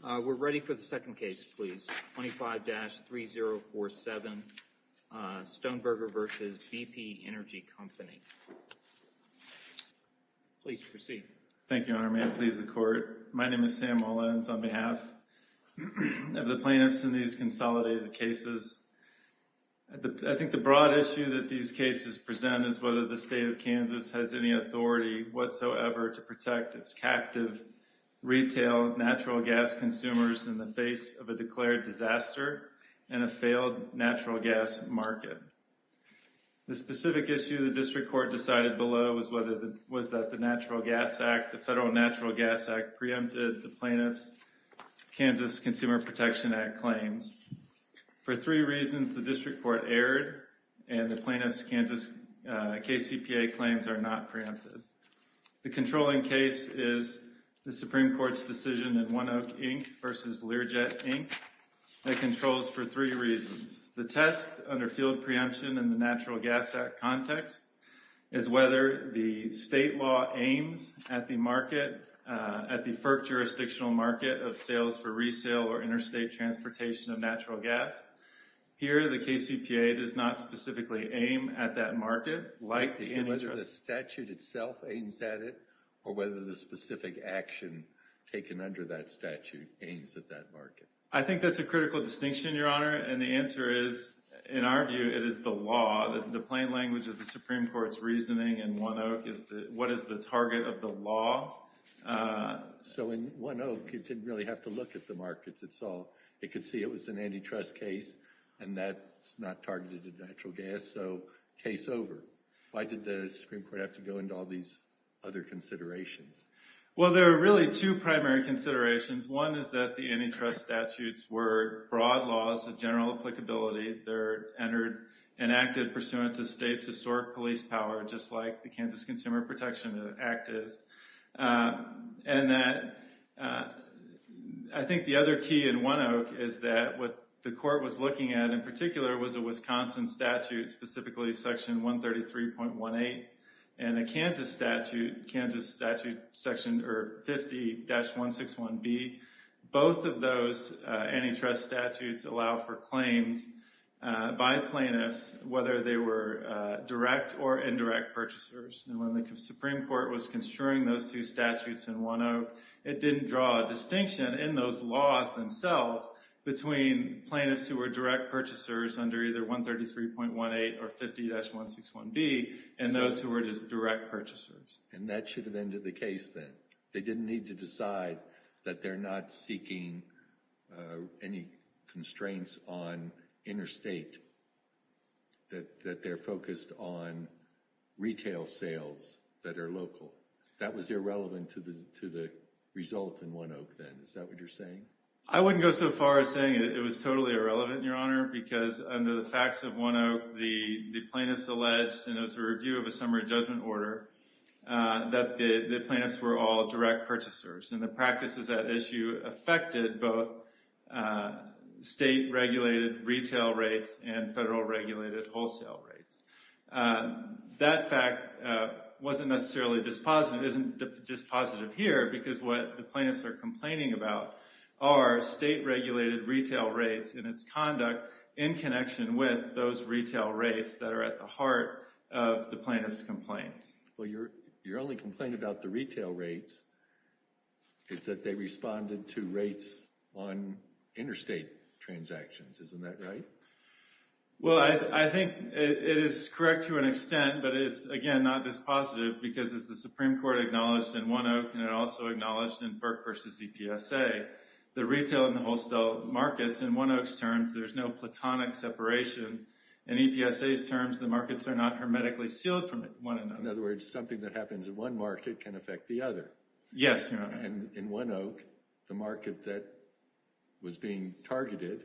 We're ready for the second case, please. 25-3047 Stoneberger v. BP Energy Company. Please proceed. Thank you, your honor. May it please the court. My name is Sam Mullins on behalf of the plaintiffs in these consolidated cases. I think the broad issue that these cases present is whether the state of Kansas has any authority whatsoever to protect its captive retail natural gas consumers in the face of a declared disaster and a failed natural gas market. The specific issue the district court decided below was that the Federal Natural Gas Act preempted the plaintiff's Kansas Consumer Protection Act claims. For three reasons, the district court erred and the plaintiff's Kansas KCPA claims are not preempted. The controlling case is the Supreme Court's decision in One Oak, Inc. v. Learjet, Inc. that controls for three reasons. The test under field preemption in the Natural Gas Act context is whether the state law aims at the market at the FERC jurisdictional market of sales for resale or interstate transportation of natural gas. Here, the KCPA does not specifically aim at that market like antitrust. Is it whether the statute itself aims at it or whether the specific action taken under that statute aims at that market? I think that's a critical distinction, your honor, and the answer is, in our view, it is the law. The plain language of the Supreme Court's reasoning in One Oak is what is the target of the law. So in One Oak, you didn't really have to look at the markets at all. It could see it was an antitrust case and that's not targeted natural gas, so case over. Why did the Supreme Court have to go into all these other considerations? Well, there are really two primary considerations. One is that the antitrust statutes were broad laws of general applicability. They're enacted pursuant to state's historic police power, just like the Kansas Consumer Protection Act is, and that I think the other key in One Oak is that what the court was looking at in particular was a Wisconsin statute, specifically section 133.18 and a Kansas statute, Kansas statute 50-161B. Both of those antitrust statutes allow for claims by plaintiffs, whether they were direct or indirect purchasers, and when the Supreme Court was construing those two statutes in One Oak, it didn't draw a distinction in those laws themselves between plaintiffs who were direct purchasers under either 133.18 or 50-161B and those who were just direct purchasers. And that should have ended the case then. They didn't need to decide that they're not seeking any constraints on interstate, that they're focused on retail sales that are local. That was irrelevant to the result in One Oak then, is that what you're saying? I wouldn't go so far as saying it was totally irrelevant, Your Honor, because under the facts of One Oak, the plaintiffs alleged, and it was a review of a summary judgment order, that the plaintiffs were all direct purchasers, and the practices at issue affected both state-regulated retail rates and federal-regulated wholesale rates. That fact wasn't necessarily dispositive, isn't dispositive here, because what the plaintiffs are complaining about are state-regulated retail rates and its conduct in connection with those retail rates that are at the heart of the plaintiff's complaints. Well, your only complaint about the retail rates is that they responded to rates on interstate transactions. Isn't that right? Well, I think it is correct to an extent, but it's, again, not dispositive because as the plaintiff says versus EPSA, the retail and the wholesale markets, in One Oak's terms, there's no platonic separation. In EPSA's terms, the markets are not hermetically sealed from one another. In other words, something that happens in one market can affect the other. Yes, Your Honor. And in One Oak, the market that was being targeted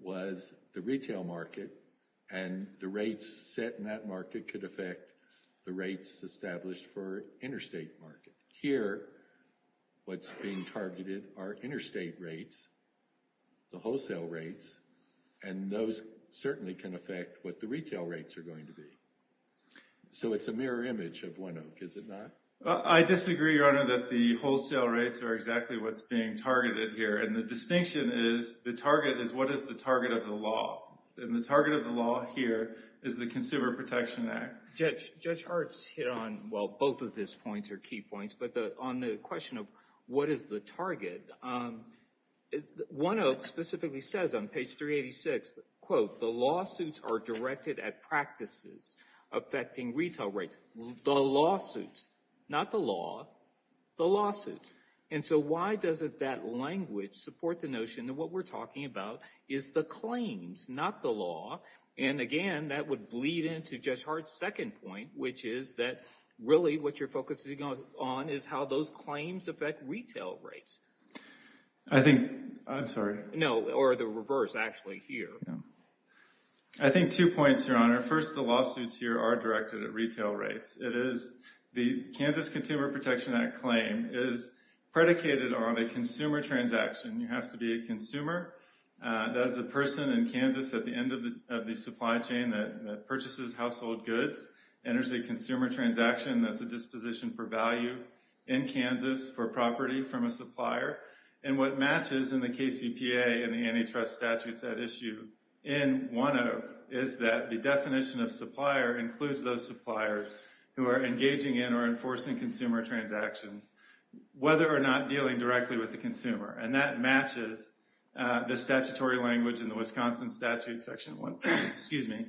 was the retail market, and the rates set in that market could affect the rates established for interstate market. Here, what's being targeted are interstate rates, the wholesale rates, and those certainly can affect what the retail rates are going to be. So it's a mirror image of One Oak, is it not? I disagree, Your Honor, that the wholesale rates are exactly what's being targeted here, and the distinction is the target is what is the target of the law. And the target of the law here is the Consumer Protection Act. Judge Hart's hit on, well, both of his points are key points, but on the question of what is the target, One Oak specifically says on page 386, quote, the lawsuits are directed at practices affecting retail rates. The lawsuit, not the law, the lawsuit. And so why doesn't that language support the notion that what we're talking about is the claims, not the law? And again, that would bleed into Judge Hart's second point, which is that really what you're focusing on is how those claims affect retail rates. I think, I'm sorry. No, or the reverse, actually, here. I think two points, Your Honor. First, the lawsuits here are directed at retail rates. It is the Kansas Consumer Protection Act claim is predicated on a consumer transaction. You have to be a consumer. That is a person in Kansas at the end of the supply chain that purchases household goods, enters a consumer transaction, that's a disposition per value in Kansas for property from a supplier. And what matches in the KCPA and the antitrust statutes at issue in One Oak is that the definition of supplier includes those suppliers who are engaging in or enforcing consumer transactions, whether or not dealing directly with the consumer. And that matches the statutory language in the Wisconsin statute, section one, excuse me,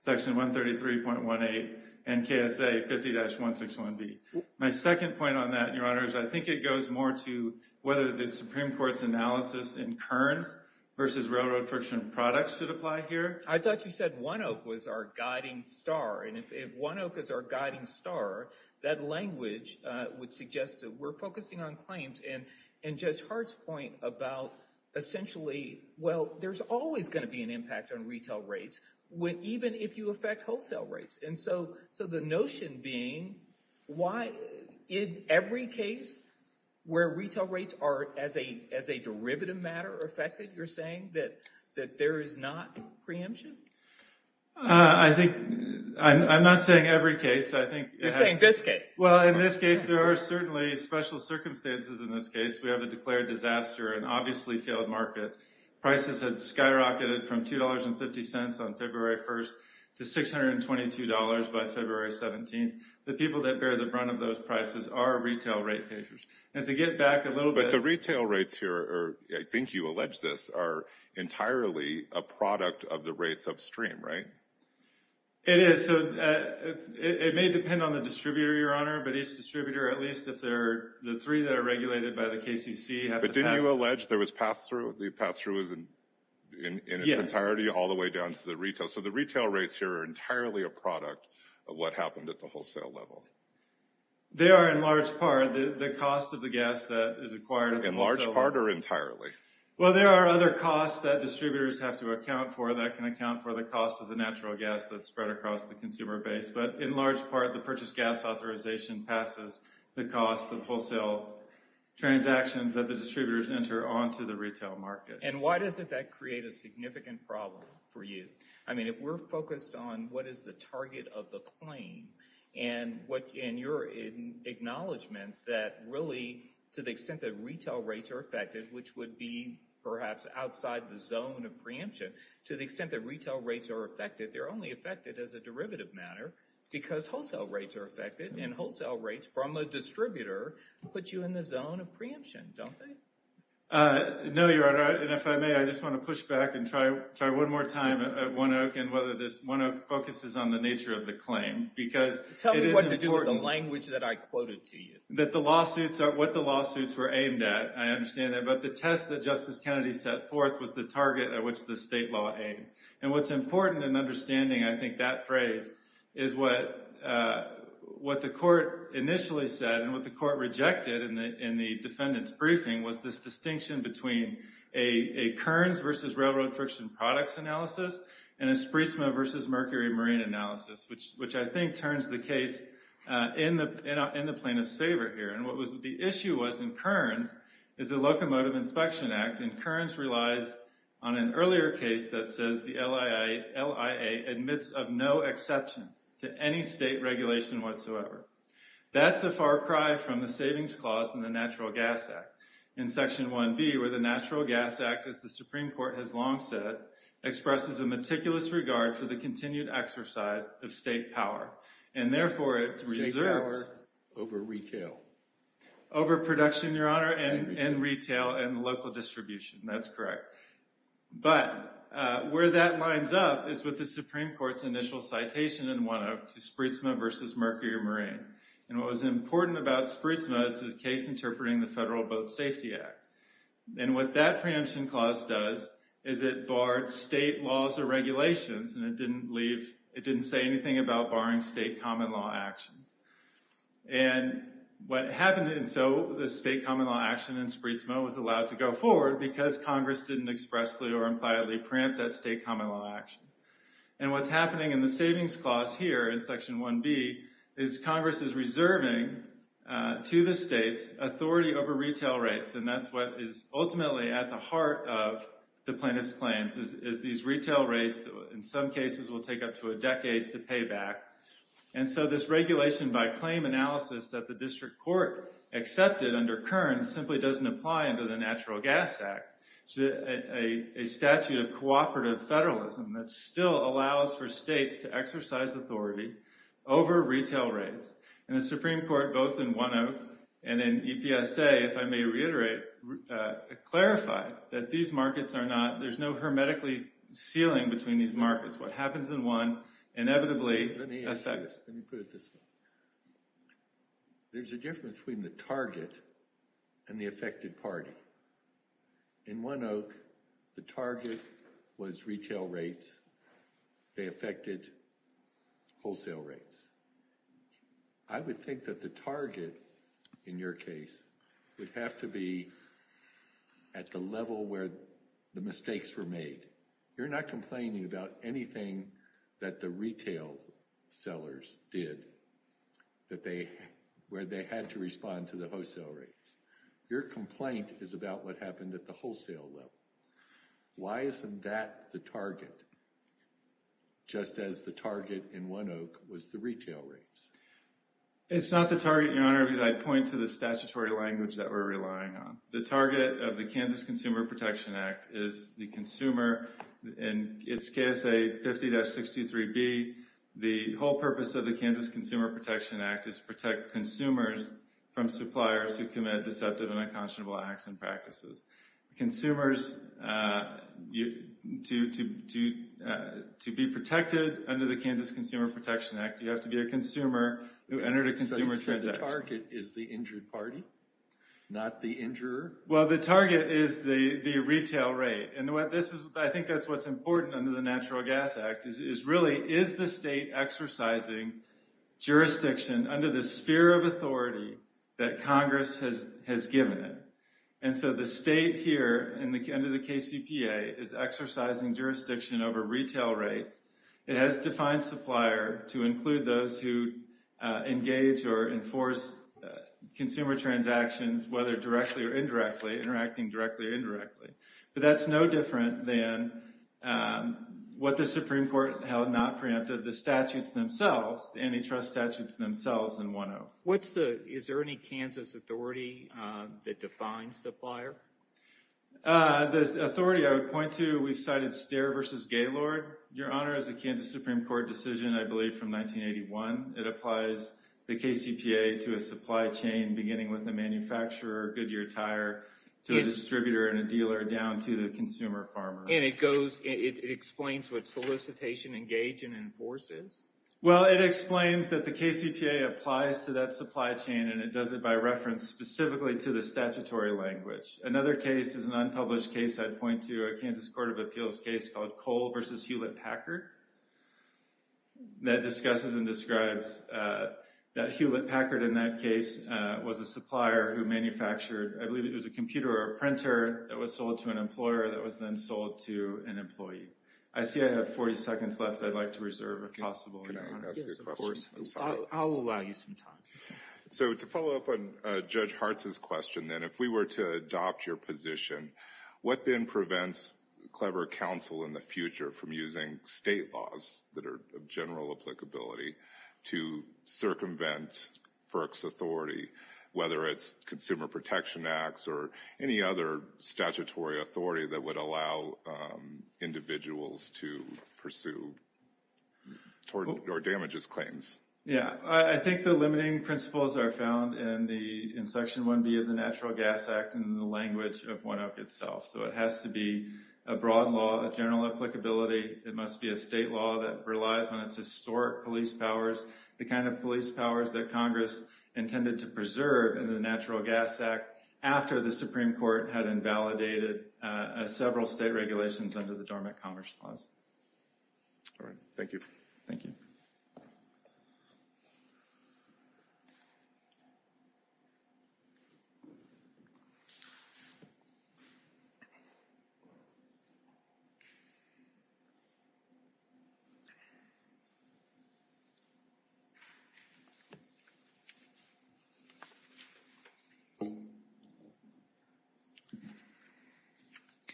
section 133.18 and KSA 50-161B. My second point on that, Your Honor, is I think it goes more to whether the Supreme Court's analysis in Kearns versus railroad friction products should apply here. I thought you said One Oak was our guiding star. And if One Oak is our guiding star, that language would suggest that we're focusing on claims and Judge Hart's point about essentially, well, there's always going to be an impact on retail rates, even if you affect wholesale rates. And so the notion being, why in every case where retail rates are as a derivative matter affected, you're saying that there is not preemption? I think I'm not saying every case. You're saying this case? Well, in this case, there are certainly special circumstances in this case. We have a declared disaster, an obviously failed market. Prices had skyrocketed from $2.50 on February 1st to $622 by February 17th. The people that bear the brunt of those prices are retail rate payers. And to get back a little bit... But the retail rates here are, I think you allege this, are entirely a product of the rates upstream, right? It is. So it may depend on the distributor, Your Honor, but each distributor, at least if they're the three that are regulated by the KCC... But didn't you allege there was pass-through? The pass-through is in its entirety all the way down to the retail. So the retail rates here are wholesale level. They are in large part the cost of the gas that is acquired. In large part or entirely? Well, there are other costs that distributors have to account for that can account for the cost of the natural gas that's spread across the consumer base. But in large part, the purchase gas authorization passes the cost of wholesale transactions that the distributors enter onto the retail market. And why does that create a significant problem for you? I mean, if we're focused on what is the target of the claim and your acknowledgement that really, to the extent that retail rates are affected, which would be perhaps outside the zone of preemption, to the extent that retail rates are affected, they're only affected as a derivative matter because wholesale rates are affected. And wholesale rates from a distributor put you in the zone of preemption, don't they? No, Your Honor. And if I may, I just want to push back and try one more time at One Oak and whether this One Oak focuses on the nature of the claim. Tell me what to do with the language that I quoted to you. That the lawsuits are what the lawsuits were aimed at. I understand that. But the test that Justice Kennedy set forth was the target at which the state law aims. And what's important in understanding, I think, that phrase is what the court initially said and what the court rejected in the defendant's briefing was this distinction between a Kearns versus railroad friction products analysis and a Spreetsma versus Mercury Marine analysis, which I think turns the case in the plaintiff's favor here. And what was the issue was in Kearns is the Locomotive Inspection Act. And Kearns relies on an earlier case that says the LIA admits of no exception to any state regulation whatsoever. That's a far cry from the savings clause in the Natural Gas Act in Section 1B, where the Natural Gas Act, as the Supreme Court has long said, expresses a meticulous regard for the continued exercise of state power and therefore to reserve power over retail, over production, Your Honor, and retail and local distribution. That's correct. But where that lines up is with the Supreme Court's initial citation in 1A to Spreetsma versus Mercury Marine. And what was important about Spreetsma is the case interpreting the Federal Boat Safety Act. And what that preemption clause does is it barred state laws or regulations and it didn't leave, it didn't say anything about barring state common law actions. And what happened, and so the state common law action in Spreetsma was allowed to go forward because Congress didn't expressly or impliedly grant that state common law action. And what's happening in the savings clause here in Section 1B is Congress is reserving to the states authority over retail rates. And that's what is ultimately at the heart of the plaintiff's claims is these retail rates in some cases will take up to a decade to pay back. And so this regulation by claim analysis that the district court accepted under Kern simply doesn't apply under the Natural Gas Act. A statute of cooperative federalism that still allows for states to exercise authority over retail rates. And the Supreme Court both in 1A and in EPSA, if I may reiterate, clarified that these markets are not, there's no hermetically ceiling between these markets. What happens in one inevitably affects. Let me put it this way. There's a difference between the target and the affected party. In One Oak, the target was retail rates. They affected wholesale rates. I would think that the target in your case would have to be at the level where the mistakes were made. You're not complaining about anything that the retail sellers did where they had to respond to the wholesale rates. Your complaint is about what happened at the wholesale level. Why isn't that the target? Just as the target in One Oak was the retail rates. It's not the target, Your Honor, because I point to the statutory language that we're relying on. The target of the Kansas Consumer Protection Act is the consumer. In its KSA 50-63B, the whole purpose of the Kansas Consumer Protection Act is to protect consumers from suppliers who commit deceptive and unconscionable acts and practices. Consumers, to be protected under the Kansas Consumer Protection Act, you have to be a consumer who entered a consumer transaction. So you said the target is the party, not the injurer? The target is the retail rate. I think that's what's important under the Natural Gas Act. Is the state exercising jurisdiction under the sphere of authority that Congress has given it? The state here under the KCPA is exercising jurisdiction over retail rates. It has defined supplier to include those who engage or enforce consumer transactions, whether directly or indirectly, interacting directly or indirectly. But that's no different than what the Supreme Court held not preemptive, the statutes themselves, the antitrust statutes themselves in One Oak. Is there any Kansas authority that defines supplier? The authority I would point to, we cited Stare v. Gaylord. Your Honor, as a Kansas Supreme Court decision, I believe from 1981, it applies the KCPA to a supply chain beginning with a manufacturer, Goodyear Tire, to a distributor and a dealer down to the consumer farmer. And it goes, it explains what solicitation engage and enforce is? Well, it explains that the KCPA applies to that supply chain and it does it by reference specifically to the statutory language. Another case is an unpublished case I'd point to, a Kansas Court of Appeals case called Cole v. Hewlett-Packard that discusses and describes that Hewlett-Packard in that case was a supplier who manufactured, I believe it was a computer or a printer that was sold to an employer that was then sold to an employee. I see I have 40 seconds left. I'd like to reserve if possible. Yes, of course. I'll allow you some time. So to follow up on Judge Hartz's question, then, if we were to adopt your position, what then prevents Clever Counsel in the future from using state laws that are of general applicability to circumvent FERC's authority, whether it's Consumer Protection Acts or any other statutory authority that would allow individuals to pursue or damage his claims? Yeah, I think the limiting principles are found in Section 1B of the Natural Gas Act and the language of 1-0 itself. So it has to be a broad law of general applicability. It must be a state law that relies on its historic police powers, the kind of police powers that Congress intended to preserve in the Natural Gas Act after the Supreme Court had invalidated several state regulations under the Dormant Commerce Clause. All right. Thank you. Thank you.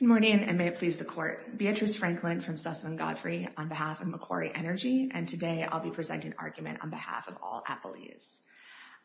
Good morning, and may it please the Court. Beatrice Franklin from Sussman Godfrey on behalf of Macquarie Energy, and today I'll be presenting an argument on behalf of all appellees.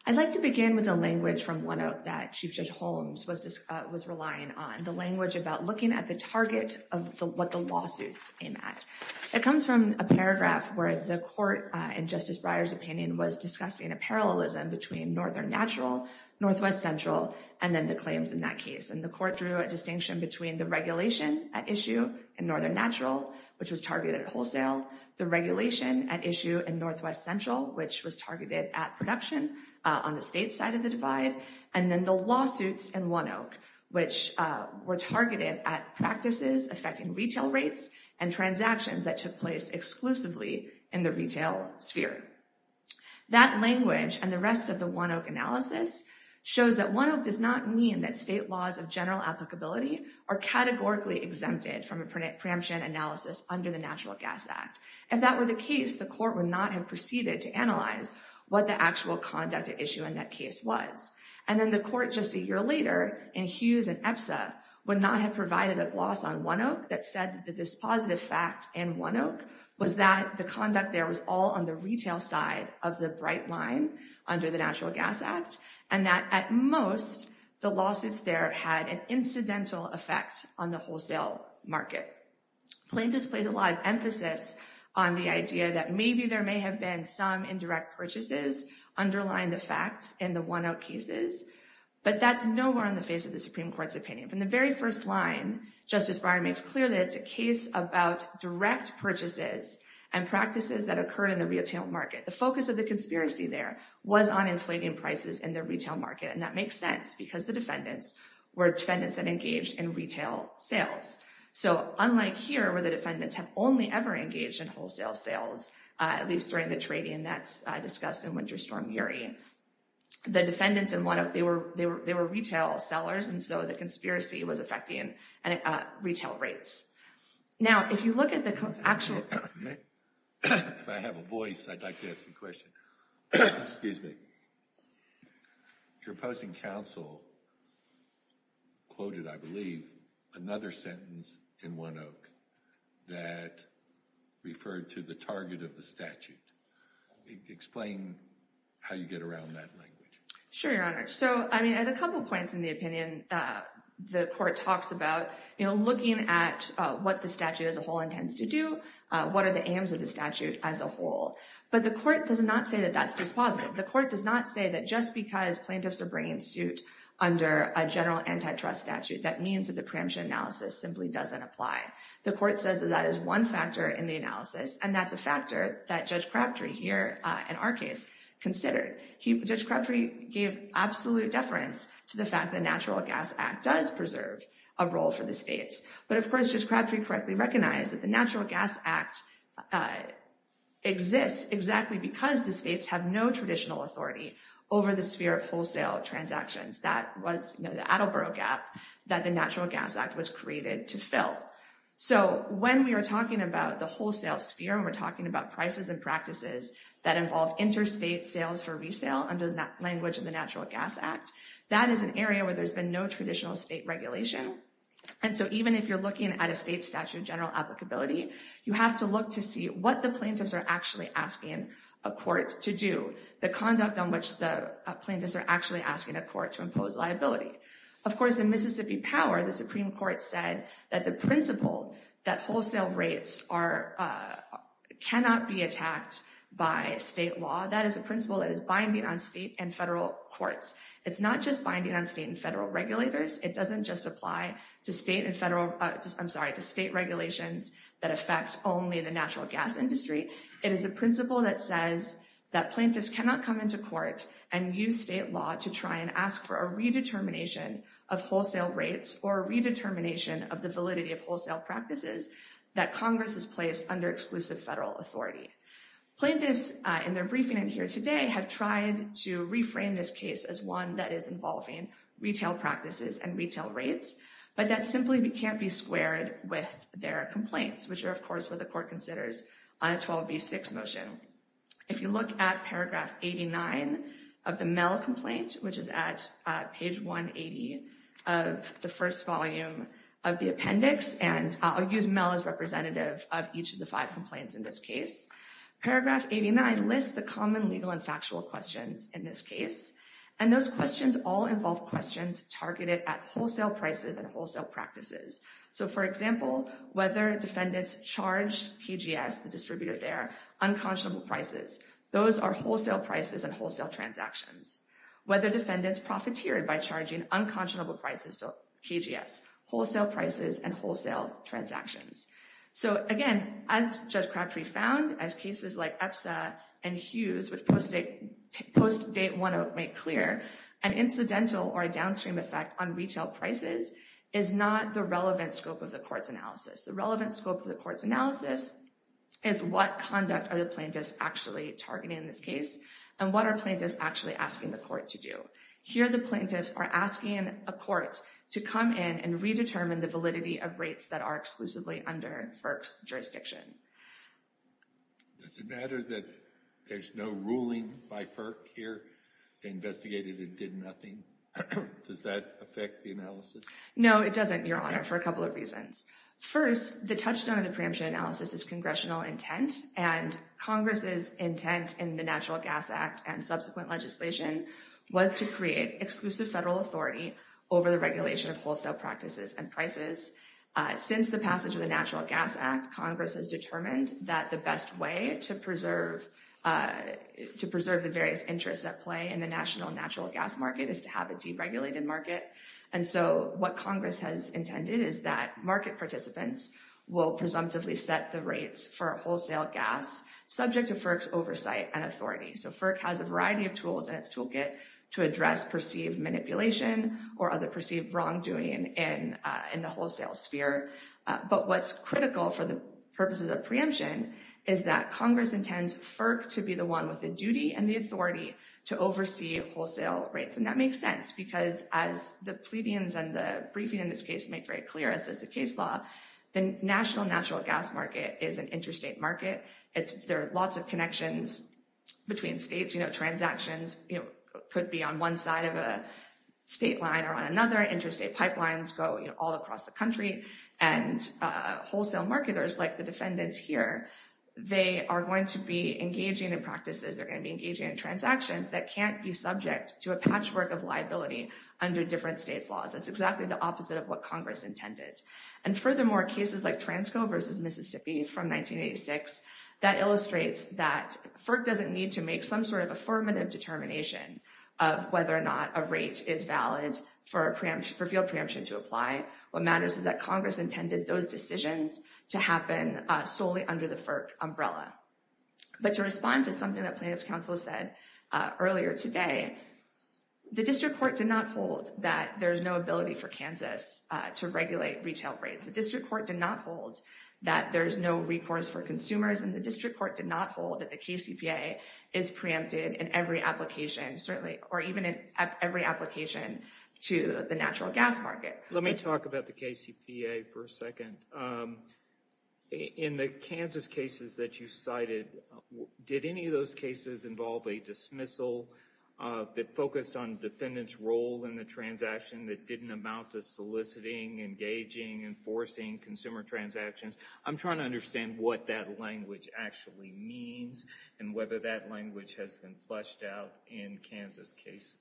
I'd like to begin with a language from one that Chief Judge Holmes was relying on, the language about looking at the target of what the lawsuits aim at. It comes from a paragraph where the Court, in Justice Breyer's opinion, was discussing a parallelism between Northern Natural, Northwest Central, and then the claims in that case. And the Court drew a distinction between the regulation at issue in Northern Natural, which was targeted at wholesale, the regulation at issue in Northwest Central, which was targeted at production on the state side of the divide, and then the lawsuits in 1-0, which were targeted at practices affecting retail rates and transactions that took place exclusively in the retail sphere. That language and the rest of the 1-0 analysis shows that 1-0 does not mean that state laws of general applicability are categorically exempted from a preemption analysis under the Natural Gas Act. If that were the case, the Court would not have proceeded to analyze what the actual conduct at issue in that case was. And then the Court, just a year later, in Hughes and EPSA, would not have provided a gloss on 1-0 that said that this positive fact in 1-0 was that the conduct there was all on the retail side of the bright line under the Natural Gas Act, and that at most, the lawsuits there had an incidental effect on the wholesale market. Plaintiffs placed a lot of emphasis on the idea that maybe there may have been some indirect purchases underlying the facts in the 1-0 cases, but that's nowhere on the face of the Supreme Court's opinion. From the very first line, Justice Breyer makes clear that it's a case about direct purchases and practices that occurred in the retail market. The focus of the conspiracy there was on inflating prices in the retail market, and that makes sense because the defendants were defendants that engaged in retail sales. So unlike here, where the defendants have only ever engaged in wholesale sales, at least during the trading that's discussed in Winter Storm Yuri, the defendants in 1-0, they were retail sellers, and so the conspiracy was affecting retail rates. Now, if you look at actual... If I have a voice, I'd like to ask a question. Excuse me. Your opposing counsel quoted, I believe, another sentence in 1-0 that referred to the target of the statute. Explain how you get around that language. Sure, Your Honor. So, I mean, at a couple points in opinion, the court talks about looking at what the statute as a whole intends to do, what are the aims of the statute as a whole, but the court does not say that that's dispositive. The court does not say that just because plaintiffs are bringing suit under a general antitrust statute, that means that the preemption analysis simply doesn't apply. The court says that that is one factor in the analysis, and that's a factor that Judge Crabtree here, in our case, considered. Judge Crabtree gave absolute deference to the fact that the Natural Gas Act does preserve a role for the states, but of course, Judge Crabtree correctly recognized that the Natural Gas Act exists exactly because the states have no traditional authority over the sphere of wholesale transactions. That was the Attleboro Gap that the Natural Gas Act was created to fill. So, when we are talking about the wholesale sphere and we're talking about prices and practices that involve interstate sales for resale under the language of the Natural Gas Act, that is an area where there's been no traditional state regulation. And so, even if you're looking at a state statute of general applicability, you have to look to see what the plaintiffs are actually asking a court to do, the conduct on which the plaintiffs are actually asking a court to impose liability. Of course, in Mississippi Power, the Supreme Court said that the principle that wholesale rates cannot be attacked by state law, that is a principle that is binding on state and federal courts. It's not just binding on state and federal regulators. It doesn't just apply to state regulations that affect only the natural gas industry. It is a principle that says that plaintiffs cannot come into court and use state law to try and ask for a redetermination of wholesale rates or a redetermination of the validity of wholesale practices that Congress has placed under exclusive federal authority. Plaintiffs, in their briefing in here today, have tried to reframe this case as one that is involving retail practices and retail rates, but that simply can't be squared with their complaints, which are, of course, what the court considers on a 12b6 motion. If you look at paragraph 89 of the Mell complaint, which is at page 180 of the first volume of the appendix, and I'll use Mell as representative of each of the five complaints in this case. Paragraph 89 lists the common legal and factual questions in this case, and those questions all involve questions targeted at wholesale prices and wholesale practices. So, for example, whether defendants charged KGS, the distributor there, unconscionable prices. Those are wholesale prices and wholesale transactions. Whether defendants profiteered by charging unconscionable prices to KGS. Wholesale prices and wholesale transactions. So, again, as Judge Crabtree found, as cases like EPSA and Hughes post-date 108 make clear, an incidental or a downstream effect on retail prices is not the scope of the court's analysis. The relevant scope of the court's analysis is what conduct are the plaintiffs actually targeting in this case, and what are plaintiffs actually asking the court to do. Here, the plaintiffs are asking a court to come in and redetermine the validity of rates that are exclusively under FERC's jurisdiction. Does it matter that there's no ruling by FERC here? They investigated and did nothing. Does that affect the analysis? No, it doesn't, Your Honor, for a couple of reasons. First, the touchstone of the preemption analysis is congressional intent, and Congress's intent in the Natural Gas Act and subsequent legislation was to create exclusive federal authority over the regulation of wholesale practices and prices. Since the passage of the Natural Gas Act, Congress has determined that the best way to preserve the various interests at play in the national natural gas market is to have a deregulated market. And so what Congress has intended is that market participants will presumptively set the rates for wholesale gas, subject to FERC's oversight and authority. So FERC has a variety of tools in its toolkit to address perceived manipulation or other perceived wrongdoing in the wholesale sphere. But what's critical for the purposes of preemption is that Congress intends FERC to be the one with the duty and the authority to oversee wholesale rates. And that makes sense, because as the plebeians and the briefing in this case make very clear, as does the case law, the national natural gas market is an interstate market. There are lots of connections between states. You know, transactions could be on one side of a state line or on another. Interstate pipelines go all across the country. And wholesale marketers, like the defendants here, they are going to be engaging in practices. They're subject to a patchwork of liability under different states' laws. That's exactly the opposite of what Congress intended. And furthermore, cases like Transco versus Mississippi from 1986, that illustrates that FERC doesn't need to make some sort of affirmative determination of whether or not a rate is valid for field preemption to apply. What matters is that Congress intended those decisions to happen solely under the FERC umbrella. But to respond to something that plaintiff's counsel said earlier today, the district court did not hold that there's no ability for Kansas to regulate retail rates. The district court did not hold that there's no recourse for consumers. And the district court did not hold that the KCPA is preempted in every application, certainly, or even in every application to the natural gas market. Let me talk about the KCPA for a second. In the Kansas cases that you cited, did any of those cases involve a dismissal that focused on defendant's role in the transaction that didn't amount to soliciting, engaging, enforcing consumer transactions? I'm trying to understand what that language actually means and whether that language has been fleshed out in Kansas cases.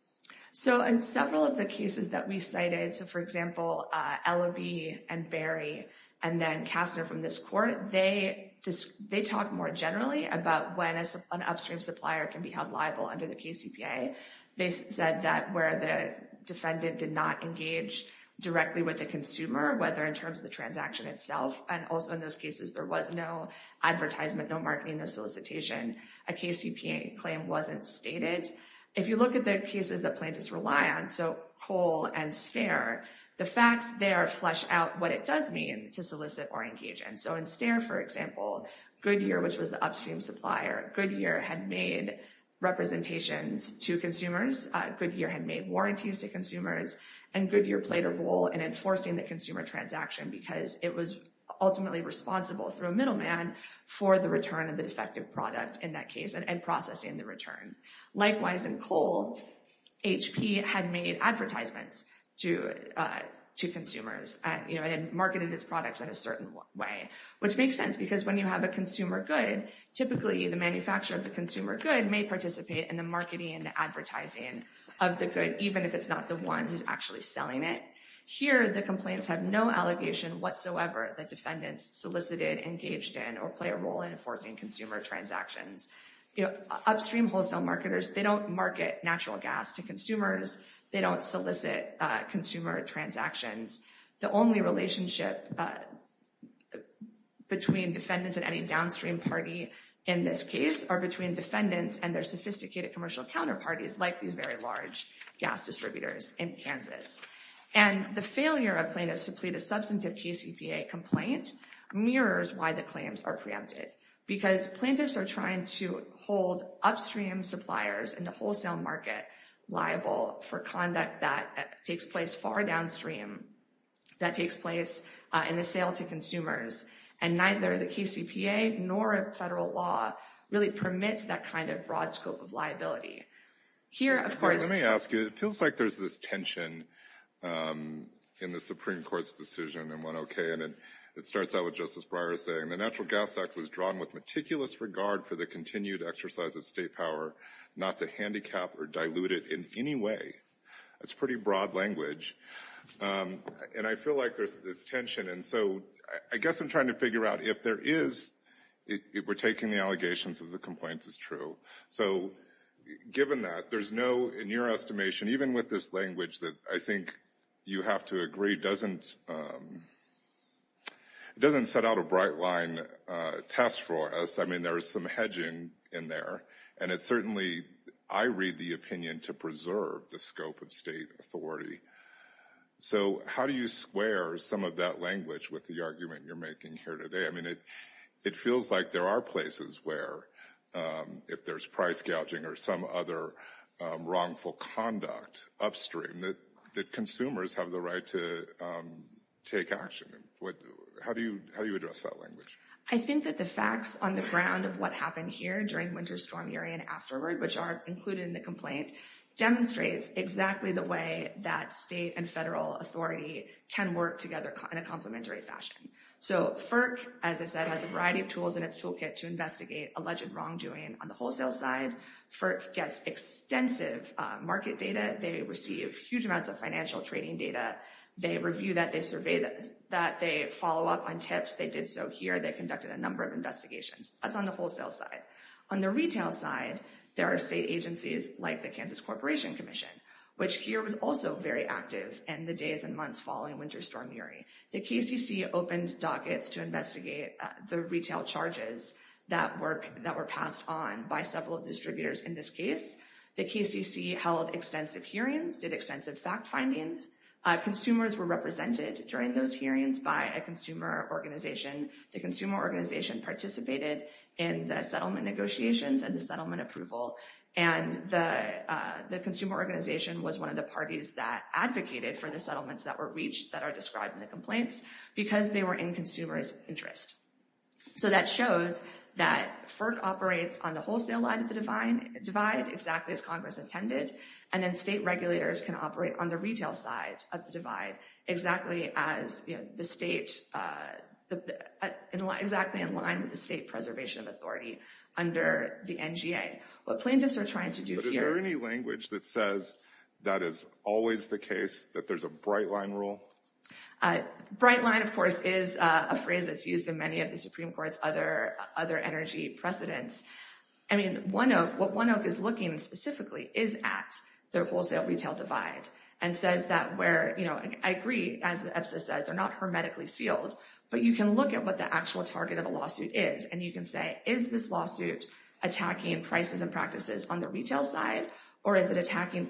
So in several of the cases that we cited, so for example, Ellaby and Berry and then Kastner from this court, they talk more generally about when an upstream supplier can be held liable under the KCPA. They said that where the defendant did not engage directly with the consumer, whether in terms of the transaction itself, and also in those cases there was no advertisement, no marketing, no solicitation, a KCPA claim wasn't stated. If you look at the cases that plaintiffs rely on, so Cole and Stare, the facts there flesh out what it does mean to solicit or engage. And so in Stare, for example, Goodyear, which was the upstream supplier, Goodyear had made representations to consumers, Goodyear had made warranties to consumers, and Goodyear played a role in enforcing the consumer transaction because it was ultimately responsible through a middleman for the return of defective product in that case and processing the return. Likewise, in Cole, HP had made advertisements to consumers, you know, and marketed its products in a certain way, which makes sense because when you have a consumer good, typically the manufacturer of the consumer good may participate in the marketing and advertising of the good, even if it's not the one who's actually selling it. Here, the complaints have no allegation whatsoever that defendants solicited, engaged in, or play a role in enforcing consumer transactions. Upstream wholesale marketers, they don't market natural gas to consumers, they don't solicit consumer transactions. The only relationship between defendants and any downstream party in this case are between defendants and their sophisticated commercial counterparties, like these very large gas distributors in Kansas. And the failure of plaintiffs to plead a substantive KCPA complaint mirrors why the because plaintiffs are trying to hold upstream suppliers in the wholesale market liable for conduct that takes place far downstream, that takes place in the sale to consumers, and neither the KCPA nor a federal law really permits that kind of broad scope of liability. Here, of course... Let me ask you, it feels like there's this tension in the Supreme Court's decision in 1OK, and it starts out with Justice Breyer saying the Natural Gas Act was drawn with meticulous regard for the continued exercise of state power, not to handicap or dilute it in any way. That's pretty broad language. And I feel like there's this tension, and so I guess I'm trying to figure out if there is, if we're taking the allegations of the complaints as true. So given that, there's no, in your estimation, even with this language that I think you have to agree doesn't set out a bright line test for us. I mean, there is some hedging in there, and it's certainly, I read the opinion to preserve the scope of state authority. So how do you square some of that language with the argument you're making here today? I mean, it feels like there are places where, if there's price gouging or some other wrongful conduct upstream, that consumers have the right to take action. How do you address that language? I think that the facts on the ground of what happened here during Winter Storm Erie and afterward, which are included in the complaint, demonstrates exactly the way that state and federal authority can work together in a complementary fashion. So FERC, as I said, has a variety of tools in its toolkit to investigate alleged wrongdoing on the wholesale side. FERC gets extensive market data. They receive huge amounts of financial trading data. They review that. They survey that. They follow up on tips. They did so here. They conducted a number of investigations. That's on the wholesale side. On the retail side, there are state agencies like the Kansas Corporation Commission, which here was also very active in the days and months following Winter Storm Erie. The KCC opened dockets to investigate the retail charges that were passed on by several distributors in this case. The KCC held extensive hearings, did extensive fact findings. Consumers were represented during those hearings by a consumer organization. The consumer organization participated in the settlement negotiations and the settlement approval. And the consumer organization was one of the parties that advocated for the settlements that were reached that are described in the complaints because they were in consumers' interest. So that shows that FERC operates on the wholesale line of the divide exactly as Congress intended. And then state regulators can operate on the retail side of the divide exactly as the state, exactly in line with the state preservation of authority under the NGA. What plaintiffs are trying to do here... But is there any language that says that is always the case, that there's a bright line rule? Bright line, of course, is a phrase that's used in many of the Supreme Court's other energy precedents. I mean, what One Oak is looking specifically is at the wholesale retail divide and says that where, you know, I agree, as EPSA says, they're not hermetically sealed, but you can look at what the actual target of a lawsuit is and you can say, is this lawsuit attacking prices and practices on the retail side or is it attacking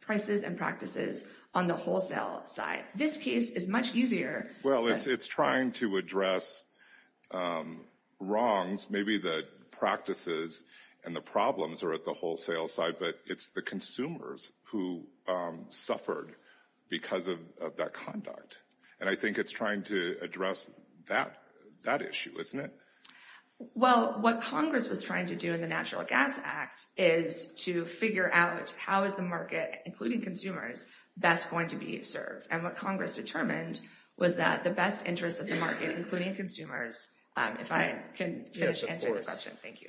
prices and practices on the wholesale side? This case is much easier. Well, it's trying to address wrongs. Maybe the practices and the problems are at the wholesale side, but it's the consumers who suffered because of that conduct. And I think it's trying to address that issue, isn't it? Well, what Congress was trying to do in the Natural Gas Act is to figure out how is the market, including consumers, best going to be served. And what Congress determined was that the best interest of the market, including consumers, if I can finish answering the question, thank you.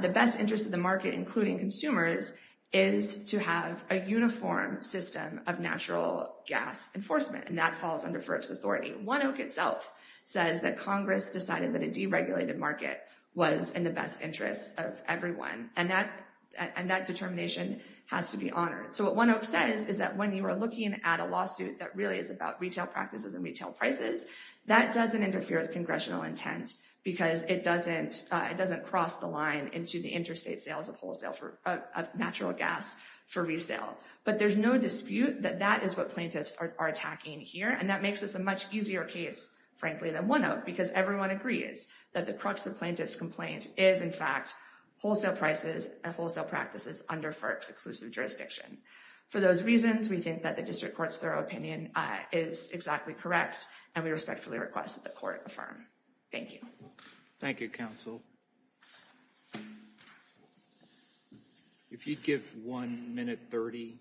The best interest of the market, including consumers, is to have a uniform system of natural gas enforcement, and that falls under FERC's authority. One Oak itself says that Congress decided that a deregulated market was in the best interest of everyone, and that determination has to be honored. So what One Oak says is that when you are looking at a lawsuit that really is about retail practices and retail prices, that doesn't interfere with congressional intent because it doesn't cross the line into the interstate sales of natural gas for resale. But there's no dispute that that is what plaintiffs are attacking here, and that makes this a much easier case, frankly, than One Oak because everyone agrees that the crux of plaintiff's complaint is, in fact, wholesale prices and wholesale practices under FERC's exclusive jurisdiction. For those reasons, we think that the district court's thorough opinion is exactly correct, and we respectfully request that the court affirm. Thank you. Thank you, counsel. If you'd give one minute thirty.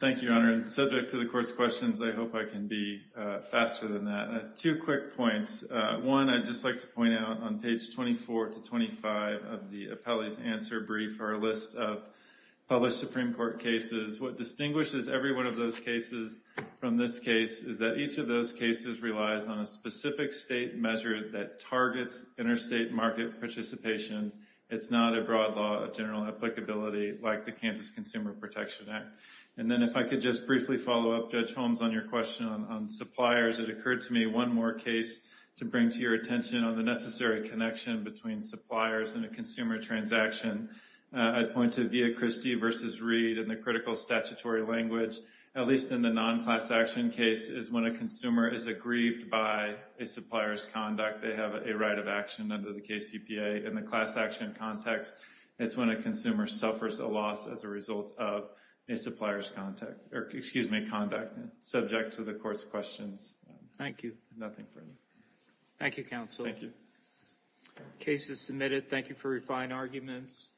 Thank you, Your Honor. Subject to the court's questions, I hope I can be faster than that. Two quick points. One, I'd just like to point out on page 24 to 25 of the appellee's answer brief, our list of published Supreme Court cases, what distinguishes every one of those cases from this case is that each of those cases relies on a specific state measure that targets interstate market participation. It's not a broad law of general applicability like the Kansas Consumer Protection Act. And then if I could just briefly follow up, Judge Holmes, on your question on suppliers, it occurred to me one more case to bring to your attention on the necessary connection between suppliers and a consumer transaction. I'd point to Villacristi v. Reed in the critical statutory language, at least in the non-class action case, is when a consumer is aggrieved by a supplier's conduct. They have a right of action under the KCPA. In the class action context, it's when a consumer suffers a loss as a result of a supplier's conduct. Subject to the court's questions. Thank you. Nothing further. Thank you, counsel. Thank you. Case is submitted. Thank you for your fine arguments.